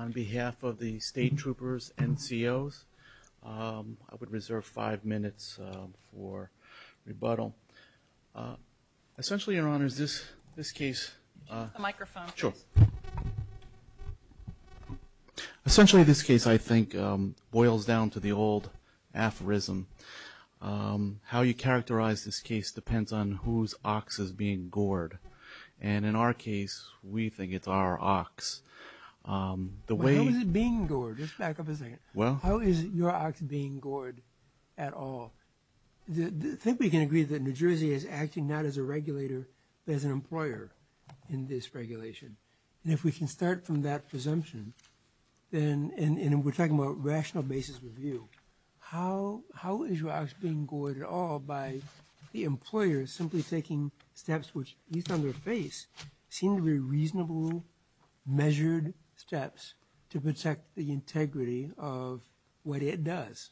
On behalf of the statetroopers and COs, I would reserve five minutes for rebuttal. Essentially, Your Honor, this case boils down to the old aphorism, how you characterize this case depends on whose ox is being gored. And in our case, we think it's our ox. How is it being gored? Just back up a second. How is your ox being gored at all? I think we can agree that New Jersey is acting not as a regulator but as an employer in this regulation. And if we can start from that presumption, and we're talking about rational basis review, how is your ox being gored at all by the employer simply taking steps which, at least on their face, seem to be reasonable, measured steps to protect the integrity of what it does?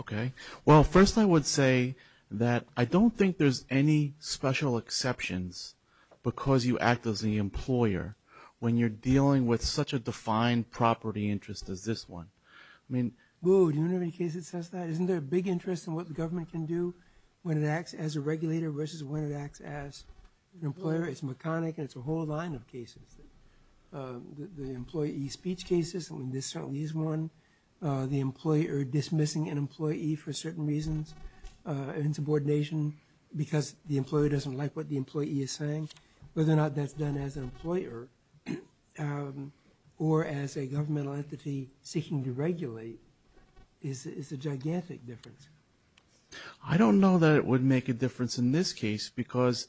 Okay. Well, first I would say that I don't think there's any special exceptions because you act as the employer when you're dealing with such a defined property interest as this one. Boo, do you know how many cases it says that? Isn't there a big interest in what the government can do when it acts as a regulator versus when it acts as an employer? It's mechanic, and it's a whole line of cases. The employee speech cases, I mean, this certainly is one. The employer dismissing an employee for certain reasons, insubordination because the employer doesn't like what the employee is saying, whether or not that's done as an employer or as a governmental entity seeking to regulate is a gigantic difference. I don't know that it would make a difference in this case because,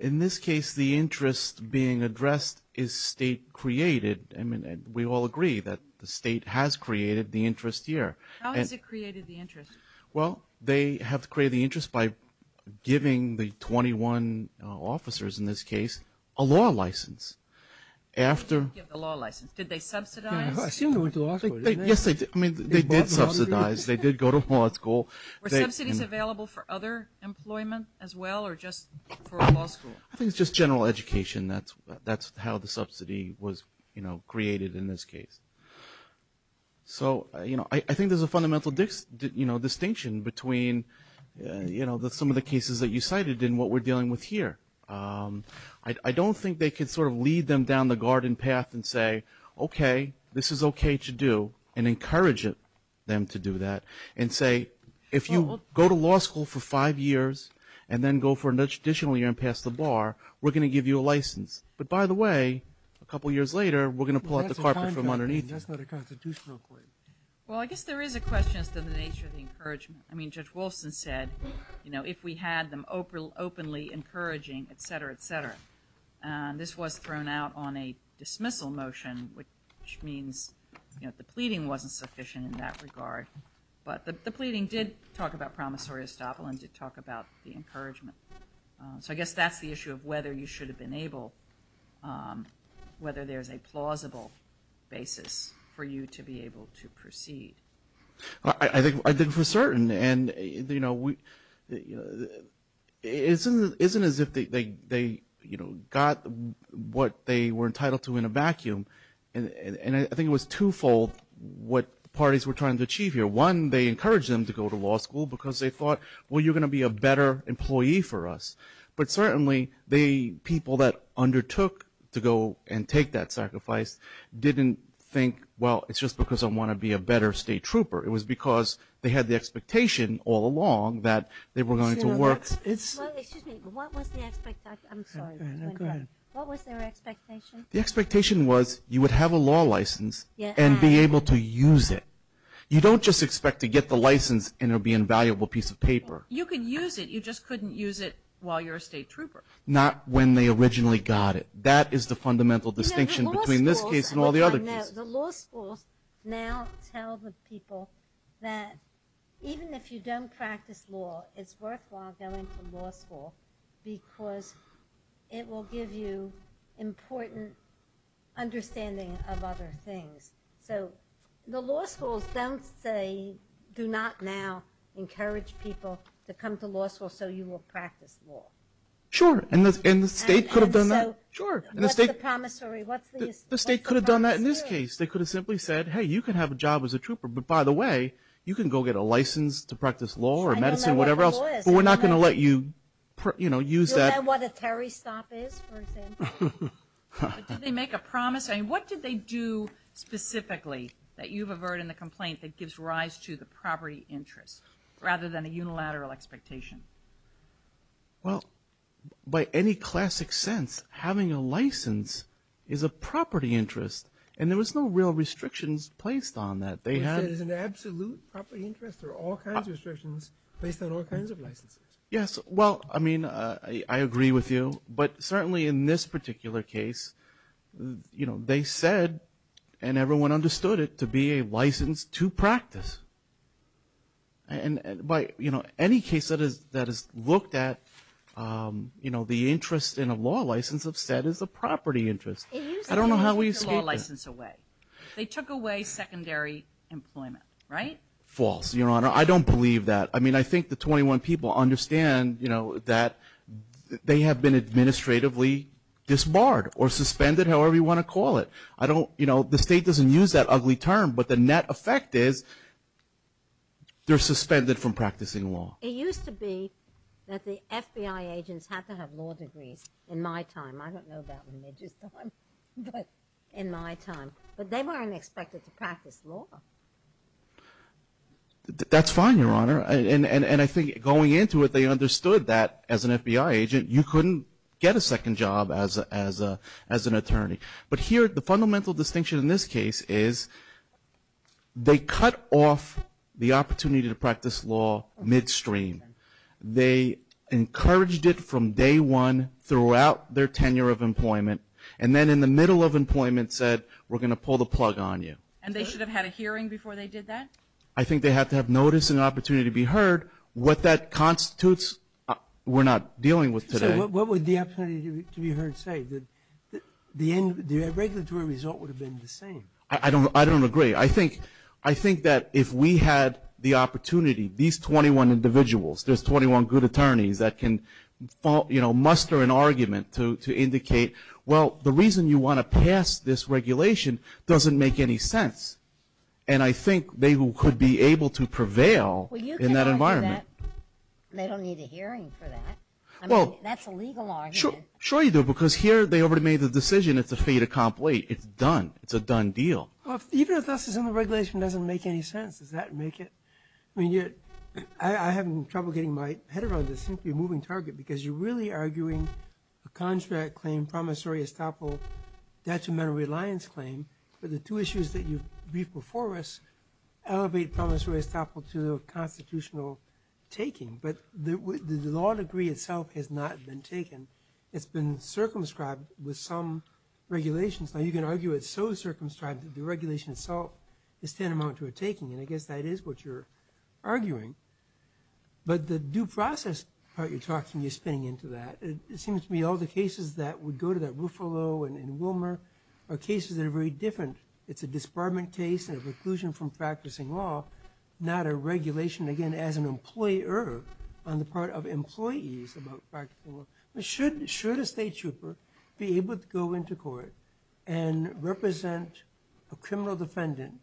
in this case, the interest being addressed is state-created. I mean, we all agree that the state has created the interest here. How has it created the interest? Well, they have created the interest by giving the 21 officers, in this case, a law license. They didn't give the law license. Did they subsidize? I assume they went to law school. Yes, they did. I mean, they did subsidize. They did go to law school. Were subsidies available for other employment as well or just for law school? I think it's just general education. That's how the subsidy was created in this case. So, you know, I think there's a fundamental distinction between, you know, some of the cases that you cited and what we're dealing with here. I don't think they could sort of lead them down the garden path and say, okay, this is okay to do, and encourage them to do that and say, if you go to law school for five years and then go for an additional year and pass the bar, we're going to give you a license. But, by the way, a couple years later, we're going to pull out the carpet from underneath. That's not a constitutional claim. Well, I guess there is a question as to the nature of the encouragement. I mean, Judge Wolfson said, you know, if we had them openly encouraging, et cetera, et cetera. This was thrown out on a dismissal motion, which means, you know, the pleading wasn't sufficient in that regard. But the pleading did talk about promissory estoppel and did talk about the encouragement. So I guess that's the issue of whether you should have been able, whether there's a plausible basis for you to be able to proceed. I think we're certain. And, you know, it isn't as if they, you know, got what they were entitled to in a vacuum. And I think it was twofold what the parties were trying to achieve here. One, they encouraged them to go to law school because they thought, well, you're going to be a better employee for us. But certainly the people that undertook to go and take that sacrifice didn't think, well, it's just because I want to be a better state trooper. It was because they had the expectation all along that they were going to work. Well, excuse me. What was the expectation? I'm sorry. Go ahead. What was their expectation? The expectation was you would have a law license and be able to use it. You don't just expect to get the license and it will be an invaluable piece of paper. You can use it. You just couldn't use it while you're a state trooper. Not when they originally got it. That is the fundamental distinction between this case and all the other cases. The law schools now tell the people that even if you don't practice law, it's worthwhile going to law school because it will give you important understanding of other things. The law schools do not now encourage people to come to law school so you will practice law. Sure. And the state could have done that. Sure. What's the promissory? The state could have done that in this case. They could have simply said, hey, you can have a job as a trooper, but by the way, you can go get a license to practice law or medicine or whatever else, but we're not going to let you use that. Do you know what a Terry stop is, for example? Did they make a promise? What did they do specifically that you've averted in the complaint that gives rise to the property interest rather than a unilateral expectation? Well, by any classic sense, having a license is a property interest, and there was no real restrictions placed on that. They had an absolute property interest or all kinds of restrictions based on all kinds of licenses. Yes. Well, I mean, I agree with you, but certainly in this particular case, you know, they said and everyone understood it to be a license to practice. And by, you know, any case that is looked at, you know, the interest in a law license of said is a property interest. I don't know how we escape that. They took away secondary employment, right? False, Your Honor. I don't believe that. I mean, I think the 21 people understand, you know, that they have been administratively disbarred or suspended, however you want to call it. I don't, you know, the State doesn't use that ugly term, but the net effect is they're suspended from practicing law. It used to be that the FBI agents had to have law degrees in my time. I don't know about in Midget's time, but in my time. But they weren't expected to practice law. That's fine, Your Honor. And I think going into it, they understood that as an FBI agent, you couldn't get a second job as an attorney. But here, the fundamental distinction in this case is they cut off the opportunity to practice law midstream. They encouraged it from day one throughout their tenure of employment, and then in the middle of employment said, we're going to pull the plug on you. And they should have had a hearing before they did that? I think they had to have noticed an opportunity to be heard. What that constitutes, we're not dealing with today. So what would the opportunity to be heard say? The end, the regulatory result would have been the same. I don't agree. I think that if we had the opportunity, these 21 individuals, there's 21 good attorneys that can, you know, muster an argument to indicate, well, the reason you want to pass this regulation doesn't make any sense. And I think they could be able to prevail in that environment. Well, you can argue that they don't need a hearing for that. I mean, that's a legal argument. Sure you do, because here they already made the decision. It's a fait accompli. It's done. It's a done deal. Well, even if this is in the regulation, it doesn't make any sense. Does that make it? I mean, I'm having trouble getting my head around this. It seems to be a moving target because you're really arguing a contract claim, promissory estoppel, detrimental reliance claim, but the two issues that you've briefed before us elevate promissory estoppel to a constitutional taking. But the law degree itself has not been taken. It's been circumscribed with some regulations. Now, you can argue it's so circumscribed that the regulation itself is tantamount to a taking, and I guess that is what you're arguing. But the due process part you're talking, you're spinning into that. It seems to me all the cases that would go to that Ruffalo and Wilmer are cases that are very different. It's a disbarment case and a preclusion from practicing law, not a regulation, again, as an employer on the part of employees about practicing law. Should a state trooper be able to go into court and represent a criminal defendant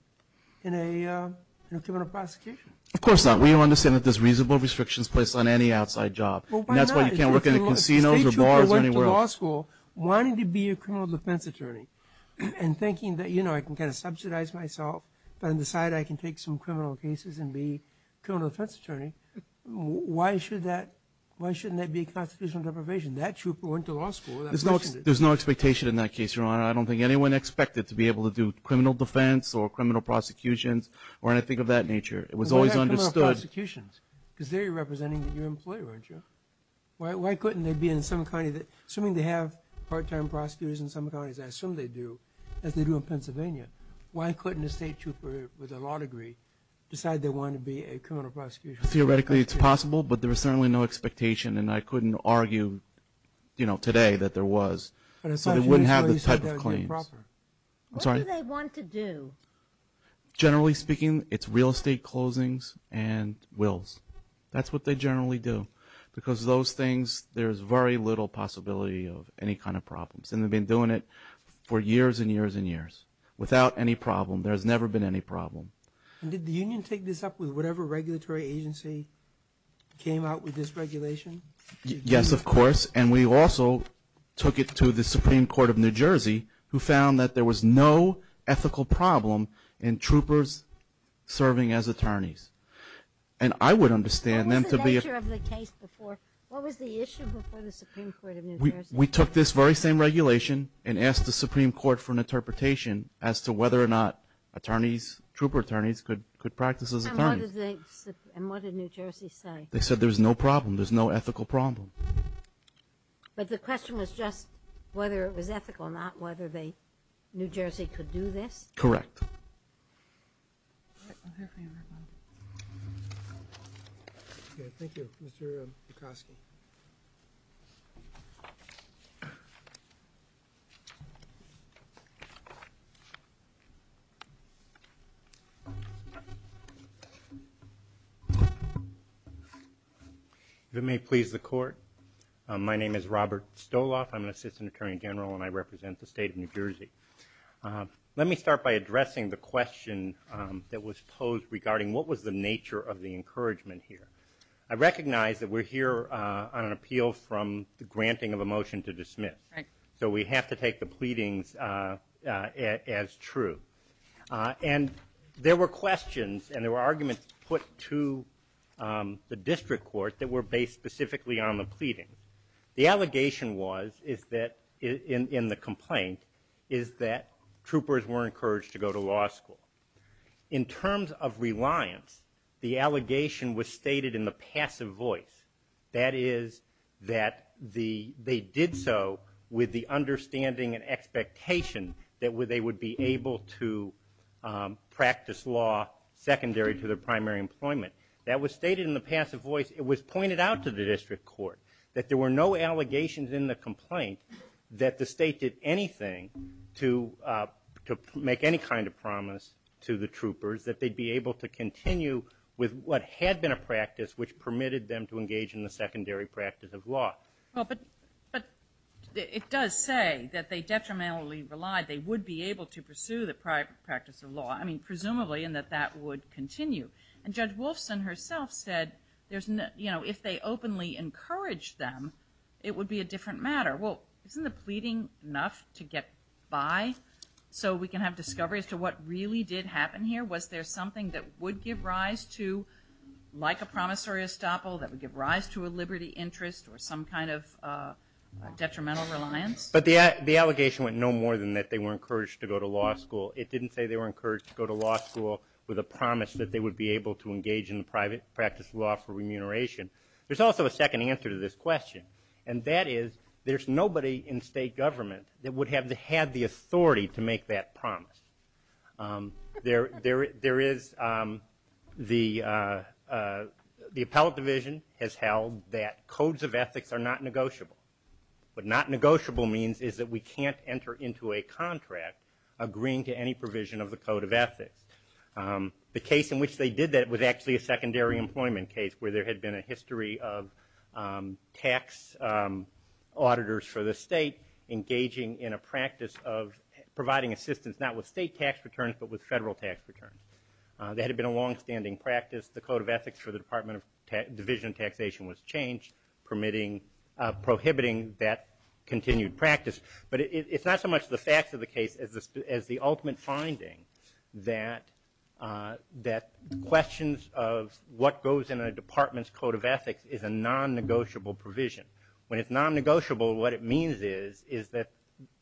in a criminal prosecution? Of course not. We understand that there's reasonable restrictions placed on any outside job. That's why you can't work in casinos or bars or anywhere else. If a state trooper went to law school wanting to be a criminal defense attorney and thinking that, you know, I can kind of subsidize myself and decide I can take some criminal cases and be a criminal defense attorney, why shouldn't that be a constitutional deprivation? That trooper went to law school. There's no expectation in that case, Your Honor. I don't think anyone expected to be able to do criminal defense or criminal prosecutions or anything of that nature. It was always understood. Because there you're representing your employer, aren't you? Why couldn't they be in some county that, assuming they have part-time prosecutors in some counties, I assume they do, as they do in Pennsylvania, why couldn't a state trooper with a law degree decide they wanted to be a criminal prosecutor? Theoretically it's possible, but there was certainly no expectation, and I couldn't argue, you know, today that there was. So they wouldn't have the type of claims. What do they want to do? Generally speaking, it's real estate closings and wills. That's what they generally do because those things, there's very little possibility of any kind of problems, and they've been doing it for years and years and years without any problem. There's never been any problem. Did the union take this up with whatever regulatory agency came out with this regulation? Yes, of course, and we also took it to the Supreme Court of New Jersey who found that there was no ethical problem in troopers serving as attorneys, and I would understand them to be – What was the nature of the case before? What was the issue before the Supreme Court of New Jersey? We took this very same regulation and asked the Supreme Court for an interpretation as to whether or not attorneys, trooper attorneys, could practice as attorneys. And what did New Jersey say? They said there was no problem. There's no ethical problem. But the question was just whether it was ethical, not whether New Jersey could do this? Correct. All right, we'll hear from you right now. Thank you. Mr. Bukoski. If it may please the Court, my name is Robert Stoloff. I'm an assistant attorney general, and I represent the state of New Jersey. Let me start by addressing the question that was posed regarding what was the nature of the encouragement here. I recognize that we're here on an appeal from the granting of a motion to dismiss. So we have to take the pleadings as true. And there were questions and there were arguments put to the district court that were based specifically on the pleadings. The allegation was, in the complaint, is that troopers weren't encouraged to go to law school. In terms of reliance, the allegation was stated in the passive voice. That is that they did so with the understanding and expectation that they would be able to practice law secondary to their primary employment. That was stated in the passive voice. It was pointed out to the district court that there were no allegations in the complaint that the state did anything to make any kind of promise to the troopers that they'd be able to continue with what had been a practice which permitted them to engage in the secondary practice of law. But it does say that they detrimentally relied. They would be able to pursue the practice of law, I mean, presumably, and that that would continue. And Judge Wolfson herself said, you know, if they openly encouraged them, it would be a different matter. Well, isn't the pleading enough to get by so we can have discovery as to what really did happen here? Was there something that would give rise to, like a promissory estoppel, that would give rise to a liberty interest or some kind of detrimental reliance? But the allegation went no more than that they were encouraged to go to law school. It didn't say they were encouraged to go to law school with a promise that they would be able to engage in the practice of law for remuneration. There's also a second answer to this question, and that is there's nobody in state government that would have had the authority to make that promise. There is the appellate division has held that codes of ethics are not negotiable. What not negotiable means is that we can't enter into a contract agreeing to any provision of the code of ethics. The case in which they did that was actually a secondary employment case where there had been a history of tax auditors for the state engaging in a practice of providing assistance not with state tax returns but with federal tax returns. That had been a longstanding practice. The code of ethics for the Department of Division of Taxation was changed, prohibiting that continued practice. But it's not so much the facts of the case as the ultimate finding that questions of what goes in a department's code of ethics is a non-negotiable provision. When it's non-negotiable, what it means is that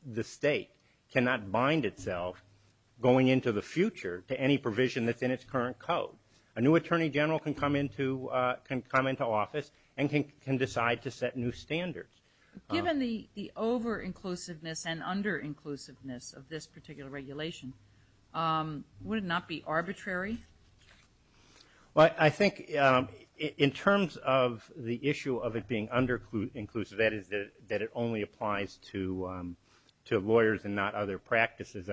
the state cannot bind itself going into the future to any provision that's in its current code. A new attorney general can come into office and can decide to set new standards. Given the over-inclusiveness and under-inclusiveness of this particular regulation, would it not be arbitrary? I think in terms of the issue of it being under-inclusive, that is that it only applies to lawyers and not other practices,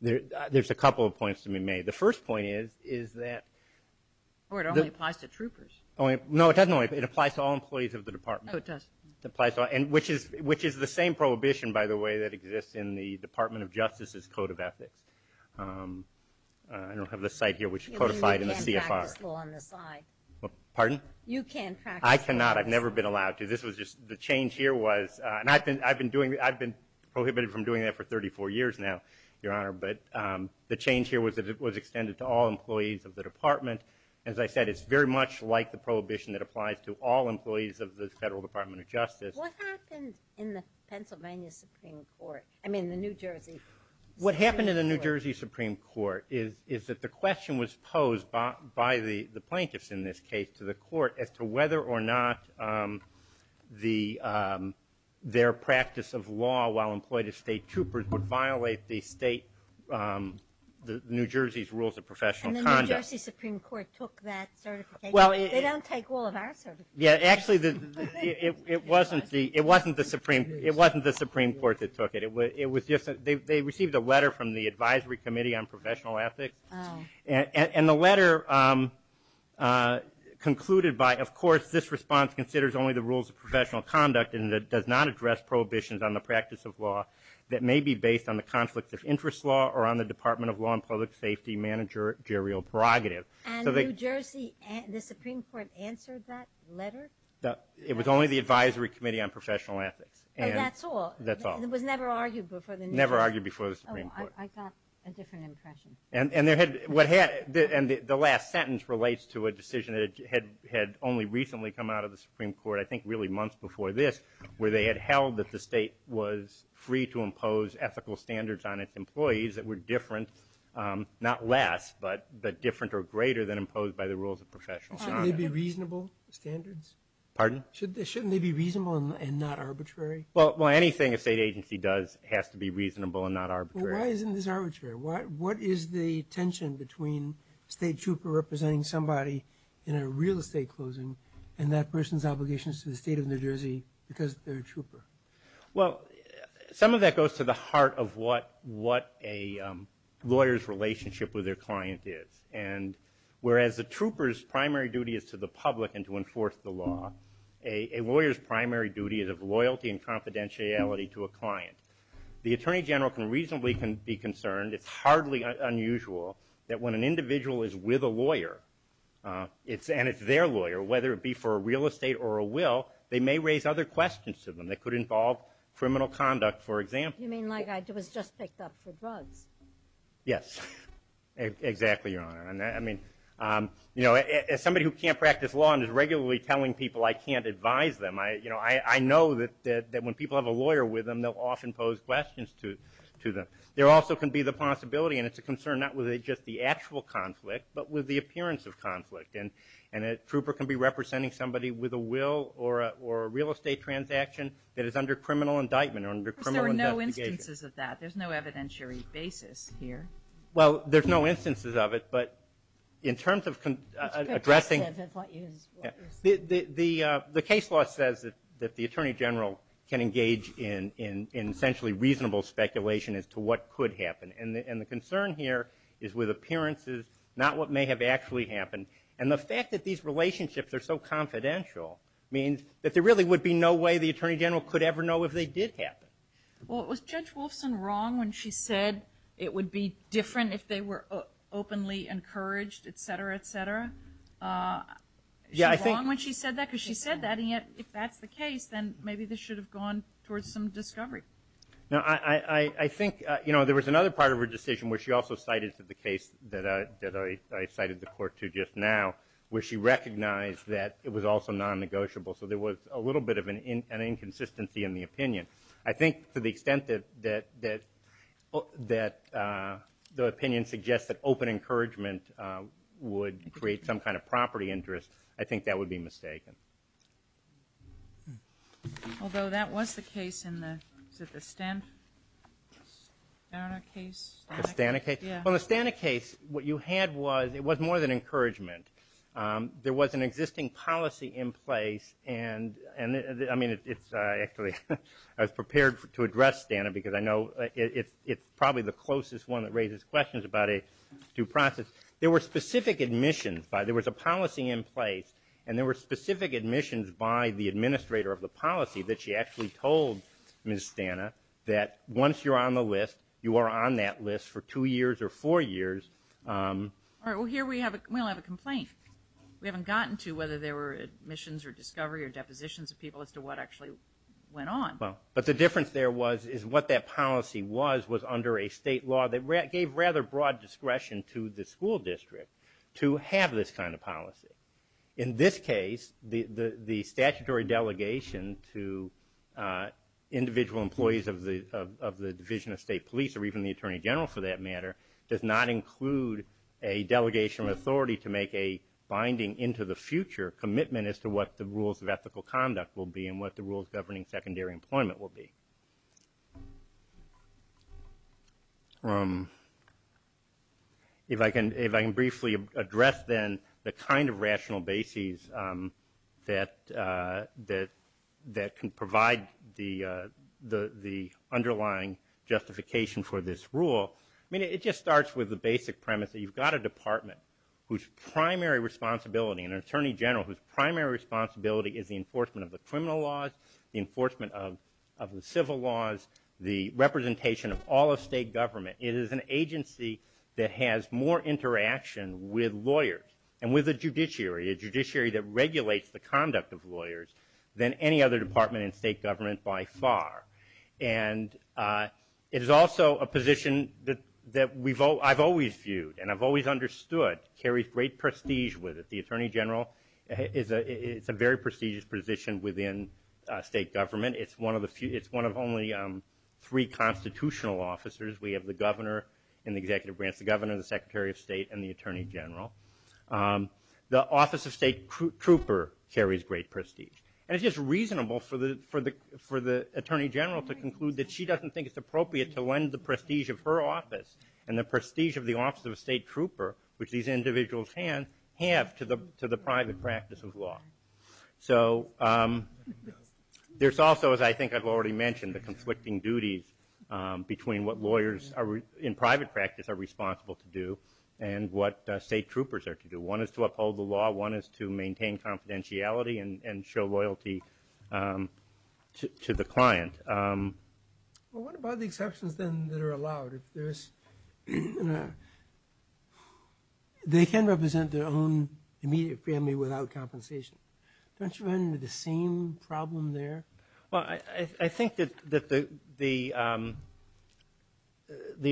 there's a couple of points to be made. The first point is that it applies to all employees of the department, which is the same prohibition, by the way, that exists in the Department of Justice's code of ethics. I don't have the site here which is codified in the CFR. Pardon? You can practice law. I cannot. I've never been allowed to. The change here was, and I've been prohibited from doing that for 34 years now, Your Honor, but the change here was that it was extended to all employees of the department. As I said, it's very much like the prohibition that applies to all employees of the Federal Department of Justice. What happened in the Pennsylvania Supreme Court, I mean the New Jersey? What happened in the New Jersey Supreme Court is that the question was posed by the plaintiffs in this case to the court as to whether or not their practice of law while employed as state troopers would violate the state New Jersey's rules of professional conduct. And the New Jersey Supreme Court took that certification. They don't take all of our certifications. Actually, it wasn't the Supreme Court that took it. They received a letter from the Advisory Committee on Professional Ethics, and the letter concluded by, of course, this response considers only the rules of professional conduct and does not address prohibitions on the practice of law that may be based on the conflict of interest law or on the Department of Law and Public Safety managerial prerogative. And New Jersey, the Supreme Court answered that letter? It was only the Advisory Committee on Professional Ethics. That's all? That's all. It was never argued before the New Jersey? Never argued before the Supreme Court. Oh, I got a different impression. And the last sentence relates to a decision that had only recently come out of the Supreme Court, I think really months before this, where they had held that the state was free to impose ethical standards on its employees that were different, not less, but different or greater than imposed by the rules of professional conduct. Shouldn't they be reasonable standards? Pardon? Shouldn't they be reasonable and not arbitrary? Well, anything a state agency does has to be reasonable and not arbitrary. Well, why isn't this arbitrary? What is the tension between a state trooper representing somebody in a real estate closing and that person's obligations to the state of New Jersey because they're a trooper? Well, some of that goes to the heart of what a lawyer's relationship with their client is. And whereas a trooper's primary duty is to the public and to enforce the law, a lawyer's primary duty is of loyalty and confidentiality to a client. The Attorney General can reasonably be concerned, it's hardly unusual, that when an individual is with a lawyer and it's their lawyer, whether it be for a real estate or a will, they may raise other questions to them that could involve criminal conduct, for example. You mean like I was just picked up for drugs? Yes, exactly, Your Honor. I mean, as somebody who can't practice law and is regularly telling people I can't advise them, I know that when people have a lawyer with them, they'll often pose questions to them. There also can be the possibility, and it's a concern not with just the actual conflict, but with the appearance of conflict. And a trooper can be representing somebody with a will or a real estate transaction that is under criminal indictment or under criminal investigation. There are no instances of that. There's no evidentiary basis here. Well, there's no instances of it, but in terms of addressing the case law says that the Attorney General can engage in essentially reasonable speculation as to what could happen. And the concern here is with appearances, not what may have actually happened. And the fact that these relationships are so confidential means that there really would be no way the Attorney General could ever know if they did happen. Well, was Judge Wolfson wrong when she said it would be different if they were openly encouraged, et cetera, et cetera? Was she wrong when she said that? Because she said that, and yet if that's the case, then maybe this should have gone towards some discovery. No, I think there was another part of her decision where she also cited the case that I cited the court to just now, where she recognized that it was also non-negotiable. So there was a little bit of an inconsistency in the opinion. I think to the extent that the opinion suggests that open encouragement would create some kind of property interest, I think that would be mistaken. Although that was the case in the, is it the Stana case? The Stana case? Yeah. Well, the Stana case, what you had was, it was more than encouragement. There was an existing policy in place and, I mean, it's actually, I was prepared to address Stana because I know it's probably the closest one that raises questions about a due process. There were specific admissions. There was a policy in place and there were specific admissions by the administrator of the policy that she actually told Ms. Stana that once you're on the list, you are on that list for two years or four years. All right. Well, here we have a complaint. We haven't gotten to whether there were admissions or discovery or depositions of people as to what actually went on. Well, but the difference there was, is what that policy was, was under a state law that gave rather broad discretion to the school district to have this kind of policy. In this case, the statutory delegation to individual employees of the Division of State Police, or even the Attorney General for that matter, does not include a delegation of authority to make a binding into the future commitment as to what the rules of ethical conduct will be and what the rules governing secondary employment will be. If I can briefly address then the kind of rational basis that can provide the underlying justification for this rule, I mean, it just starts with the basic premise that you've got a department whose primary responsibility, an attorney general whose primary responsibility is the enforcement of the criminal laws, the enforcement of the civil laws, the representation of all of state government. It is an agency that has more interaction with lawyers and with the judiciary, a judiciary that regulates the conduct of lawyers than any other department in state government by far. And it is also a position that I've always viewed and I've always understood carries great prestige with it. The attorney general is a very prestigious position within state government. It's one of only three constitutional officers. We have the governor and the executive branch, the governor, the secretary of state, and the attorney general. The office of state trooper carries great prestige. And it's just reasonable for the attorney general to conclude that she doesn't think it's appropriate to lend the prestige of her office and the prestige of the office of state trooper, which these individuals have to the private practice of law. So there's also, as I think I've already mentioned, the conflicting duties between what lawyers in private practice are responsible to do and what state troopers are to do. One is to uphold the law. One is to maintain confidentiality and show loyalty to the client. Well, what about the exceptions then that are allowed? They can represent their own immediate family without compensation. Don't you run into the same problem there? Well, I think that the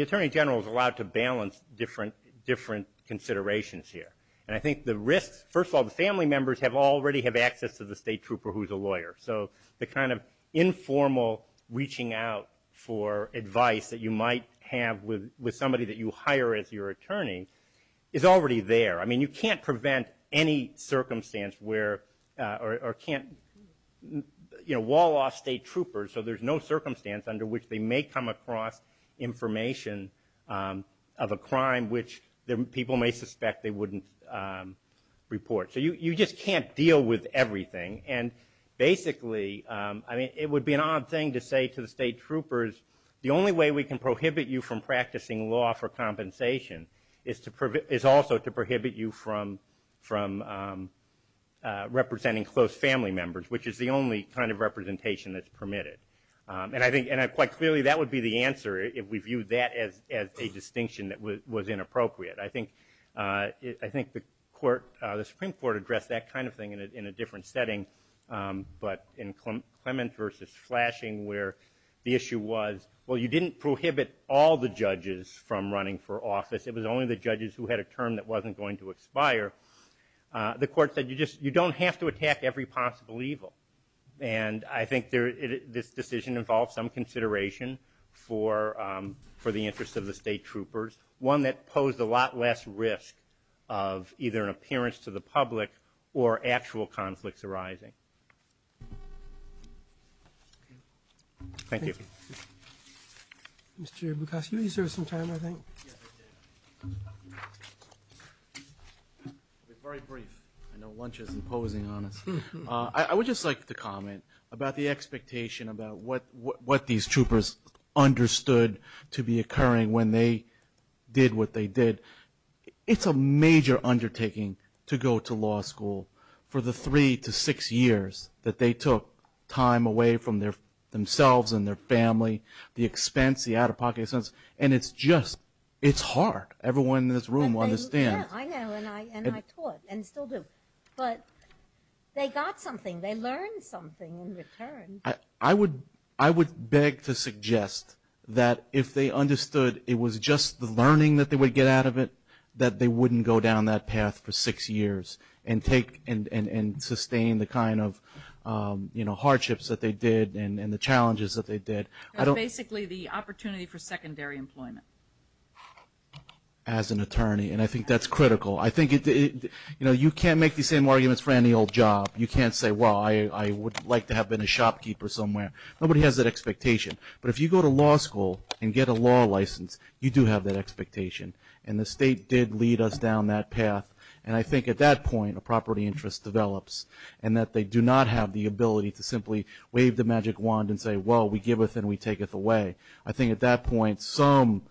attorney general is allowed to balance different considerations here. And I think the risks, first of all, the family members already have access to the state trooper who's a lawyer. So the kind of informal reaching out for advice that you might have with somebody that you hire as your attorney is already there. I mean, you can't prevent any circumstance where or can't, you know, wall off state troopers so there's no circumstance under which they may come across information of a crime which people may suspect they wouldn't report. So you just can't deal with everything. And basically, I mean, it would be an odd thing to say to the state troopers, the only way we can prohibit you from practicing law for compensation is also to prohibit you from representing close family members, which is the only kind of representation that's permitted. And I think quite clearly that would be the answer if we viewed that as a distinction that was inappropriate. I think the Supreme Court addressed that kind of thing in a different setting, but in Clement versus Flashing where the issue was, well, you didn't prohibit all the judges from running for office. It was only the judges who had a term that wasn't going to expire. The court said you don't have to attack every possible evil. And I think this decision involves some consideration for the interest of the state troopers, one that posed a lot less risk of either an appearance to the public or actual conflicts arising. Thank you. Mr. Bukowski, you served some time, I think. Very brief. I know lunch isn't posing on us. I would just like to comment about the expectation about what these troopers understood to be occurring when they did what they did. It's a major undertaking to go to law school for the three to six years that they took time away from themselves and their family, the expense, the out-of-pocket expenses, and it's just hard. Everyone in this room understands. Yeah, I know, and I taught and still do. But they got something. They learned something in return. I would beg to suggest that if they understood it was just the learning that they would get out of it, that they wouldn't go down that path for six years and sustain the kind of, you know, hardships that they did and the challenges that they did. That's basically the opportunity for secondary employment. As an attorney, and I think that's critical. I think, you know, you can't make the same arguments for any old job. You can't say, well, I would like to have been a shopkeeper somewhere. Nobody has that expectation. But if you go to law school and get a law license, you do have that expectation. And the state did lead us down that path, and I think at that point a property interest develops and that they do not have the ability to simply wave the magic wand and say, well, we give it and we take it away. I think at that point some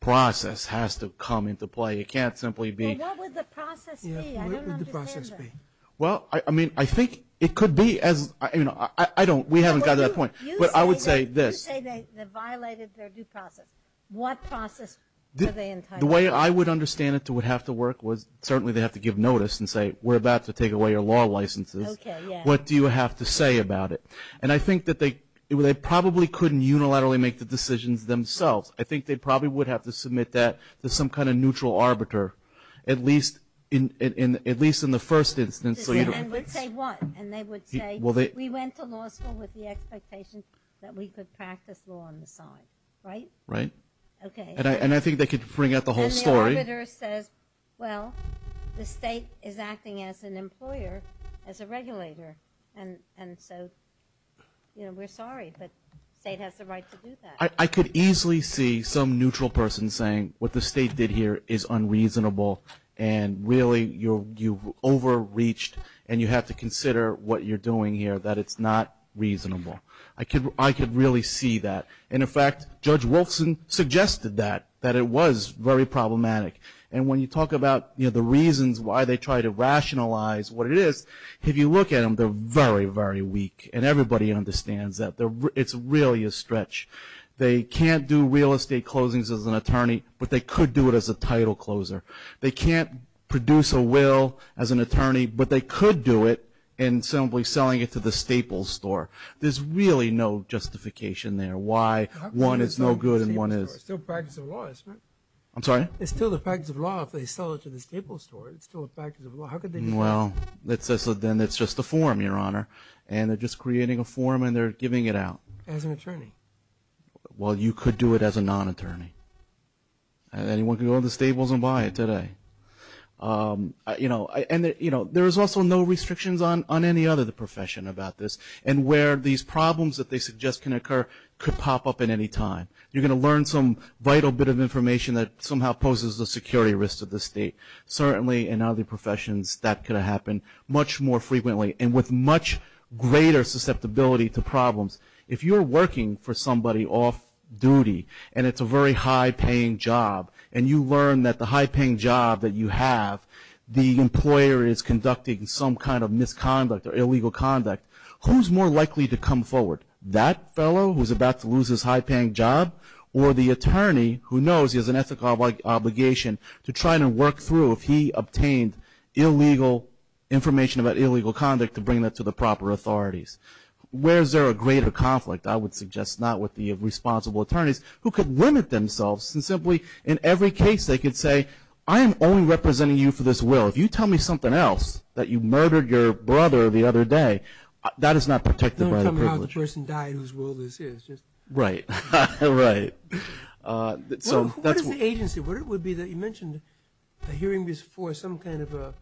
process has to come into play. It can't simply be. Well, what would the process be? I don't understand that. What would the process be? Well, I mean, I think it could be as, you know, I don't, we haven't gotten to that point. But I would say this. You say they violated their due process. What process were they entitled to? The way I would understand it to have to work was certainly they have to give notice and say, we're about to take away your law licenses. Okay, yeah. What do you have to say about it? And I think that they probably couldn't unilaterally make the decisions themselves. I think they probably would have to submit that to some kind of neutral arbiter, at least in the first instance. And would say what? And they would say, we went to law school with the expectation that we could practice law on the side, right? Right. Okay. And I think they could bring out the whole story. And the arbiter says, well, the state is acting as an employer, as a regulator. And so, you know, we're sorry, but the state has the right to do that. I could easily see some neutral person saying what the state did here is unreasonable and really you've overreached and you have to consider what you're doing here, that it's not reasonable. I could really see that. And, in fact, Judge Wolfson suggested that, that it was very problematic. And when you talk about, you know, the reasons why they try to rationalize what it is, if you look at them, they're very, very weak. And everybody understands that. It's really a stretch. They can't do real estate closings as an attorney, but they could do it as a title closer. They can't produce a will as an attorney, but they could do it in simply selling it to the staples store. There's really no justification there why one is no good and one is. It's still practice of law, isn't it? I'm sorry? It's still the practice of law if they sell it to the staples store. It's still a practice of law. Well, then it's just a form, Your Honor, and they're just creating a form and they're giving it out. As an attorney? Well, you could do it as a non-attorney. Anyone can go to the staples and buy it today. You know, there's also no restrictions on any other profession about this and where these problems that they suggest can occur could pop up at any time. You're going to learn some vital bit of information that somehow poses a security risk to the state. Certainly in other professions that could happen much more frequently and with much greater susceptibility to problems. If you're working for somebody off-duty and it's a very high-paying job and you learn that the high-paying job that you have, the employer is conducting some kind of misconduct or illegal conduct, who's more likely to come forward, that fellow who's about to lose his high-paying job or the attorney who knows he has an ethical obligation to try to work through if he obtained information about illegal conduct to bring that to the proper authorities. Where is there a greater conflict? I would suggest not with the responsible attorneys who could limit themselves and simply in every case they could say, I am only representing you for this will. If you tell me something else, that you murdered your brother the other day, that is not protected by the privilege. You're not telling me how the person died whose will this is. Right. What is the agency? You mentioned a hearing is for some kind of a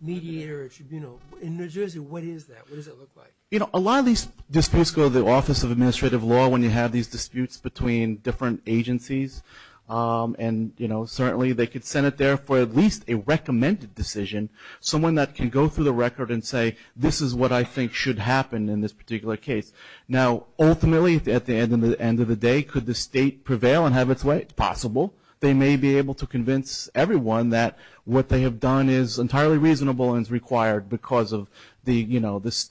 mediator or tribunal. In New Jersey, what is that? What does it look like? A lot of these disputes go to the Office of Administrative Law when you have these disputes between different agencies. Certainly they could send it there for at least a recommended decision, someone that can go through the record and say, this is what I think should happen in this particular case. Now, ultimately, at the end of the day, could the state prevail and have its way? It's possible. They may be able to convince everyone that what they have done is entirely reasonable and is required because of the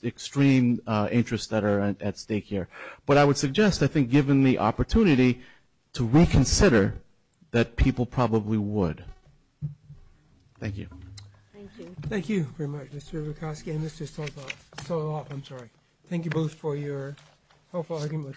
extreme interests that are at stake here. But I would suggest, I think, given the opportunity to reconsider that people probably would. Thank you. Thank you. Thank you very much, Mr. Vukoski and Mr. Stolop. Thank you both for your helpful argument. Thank you.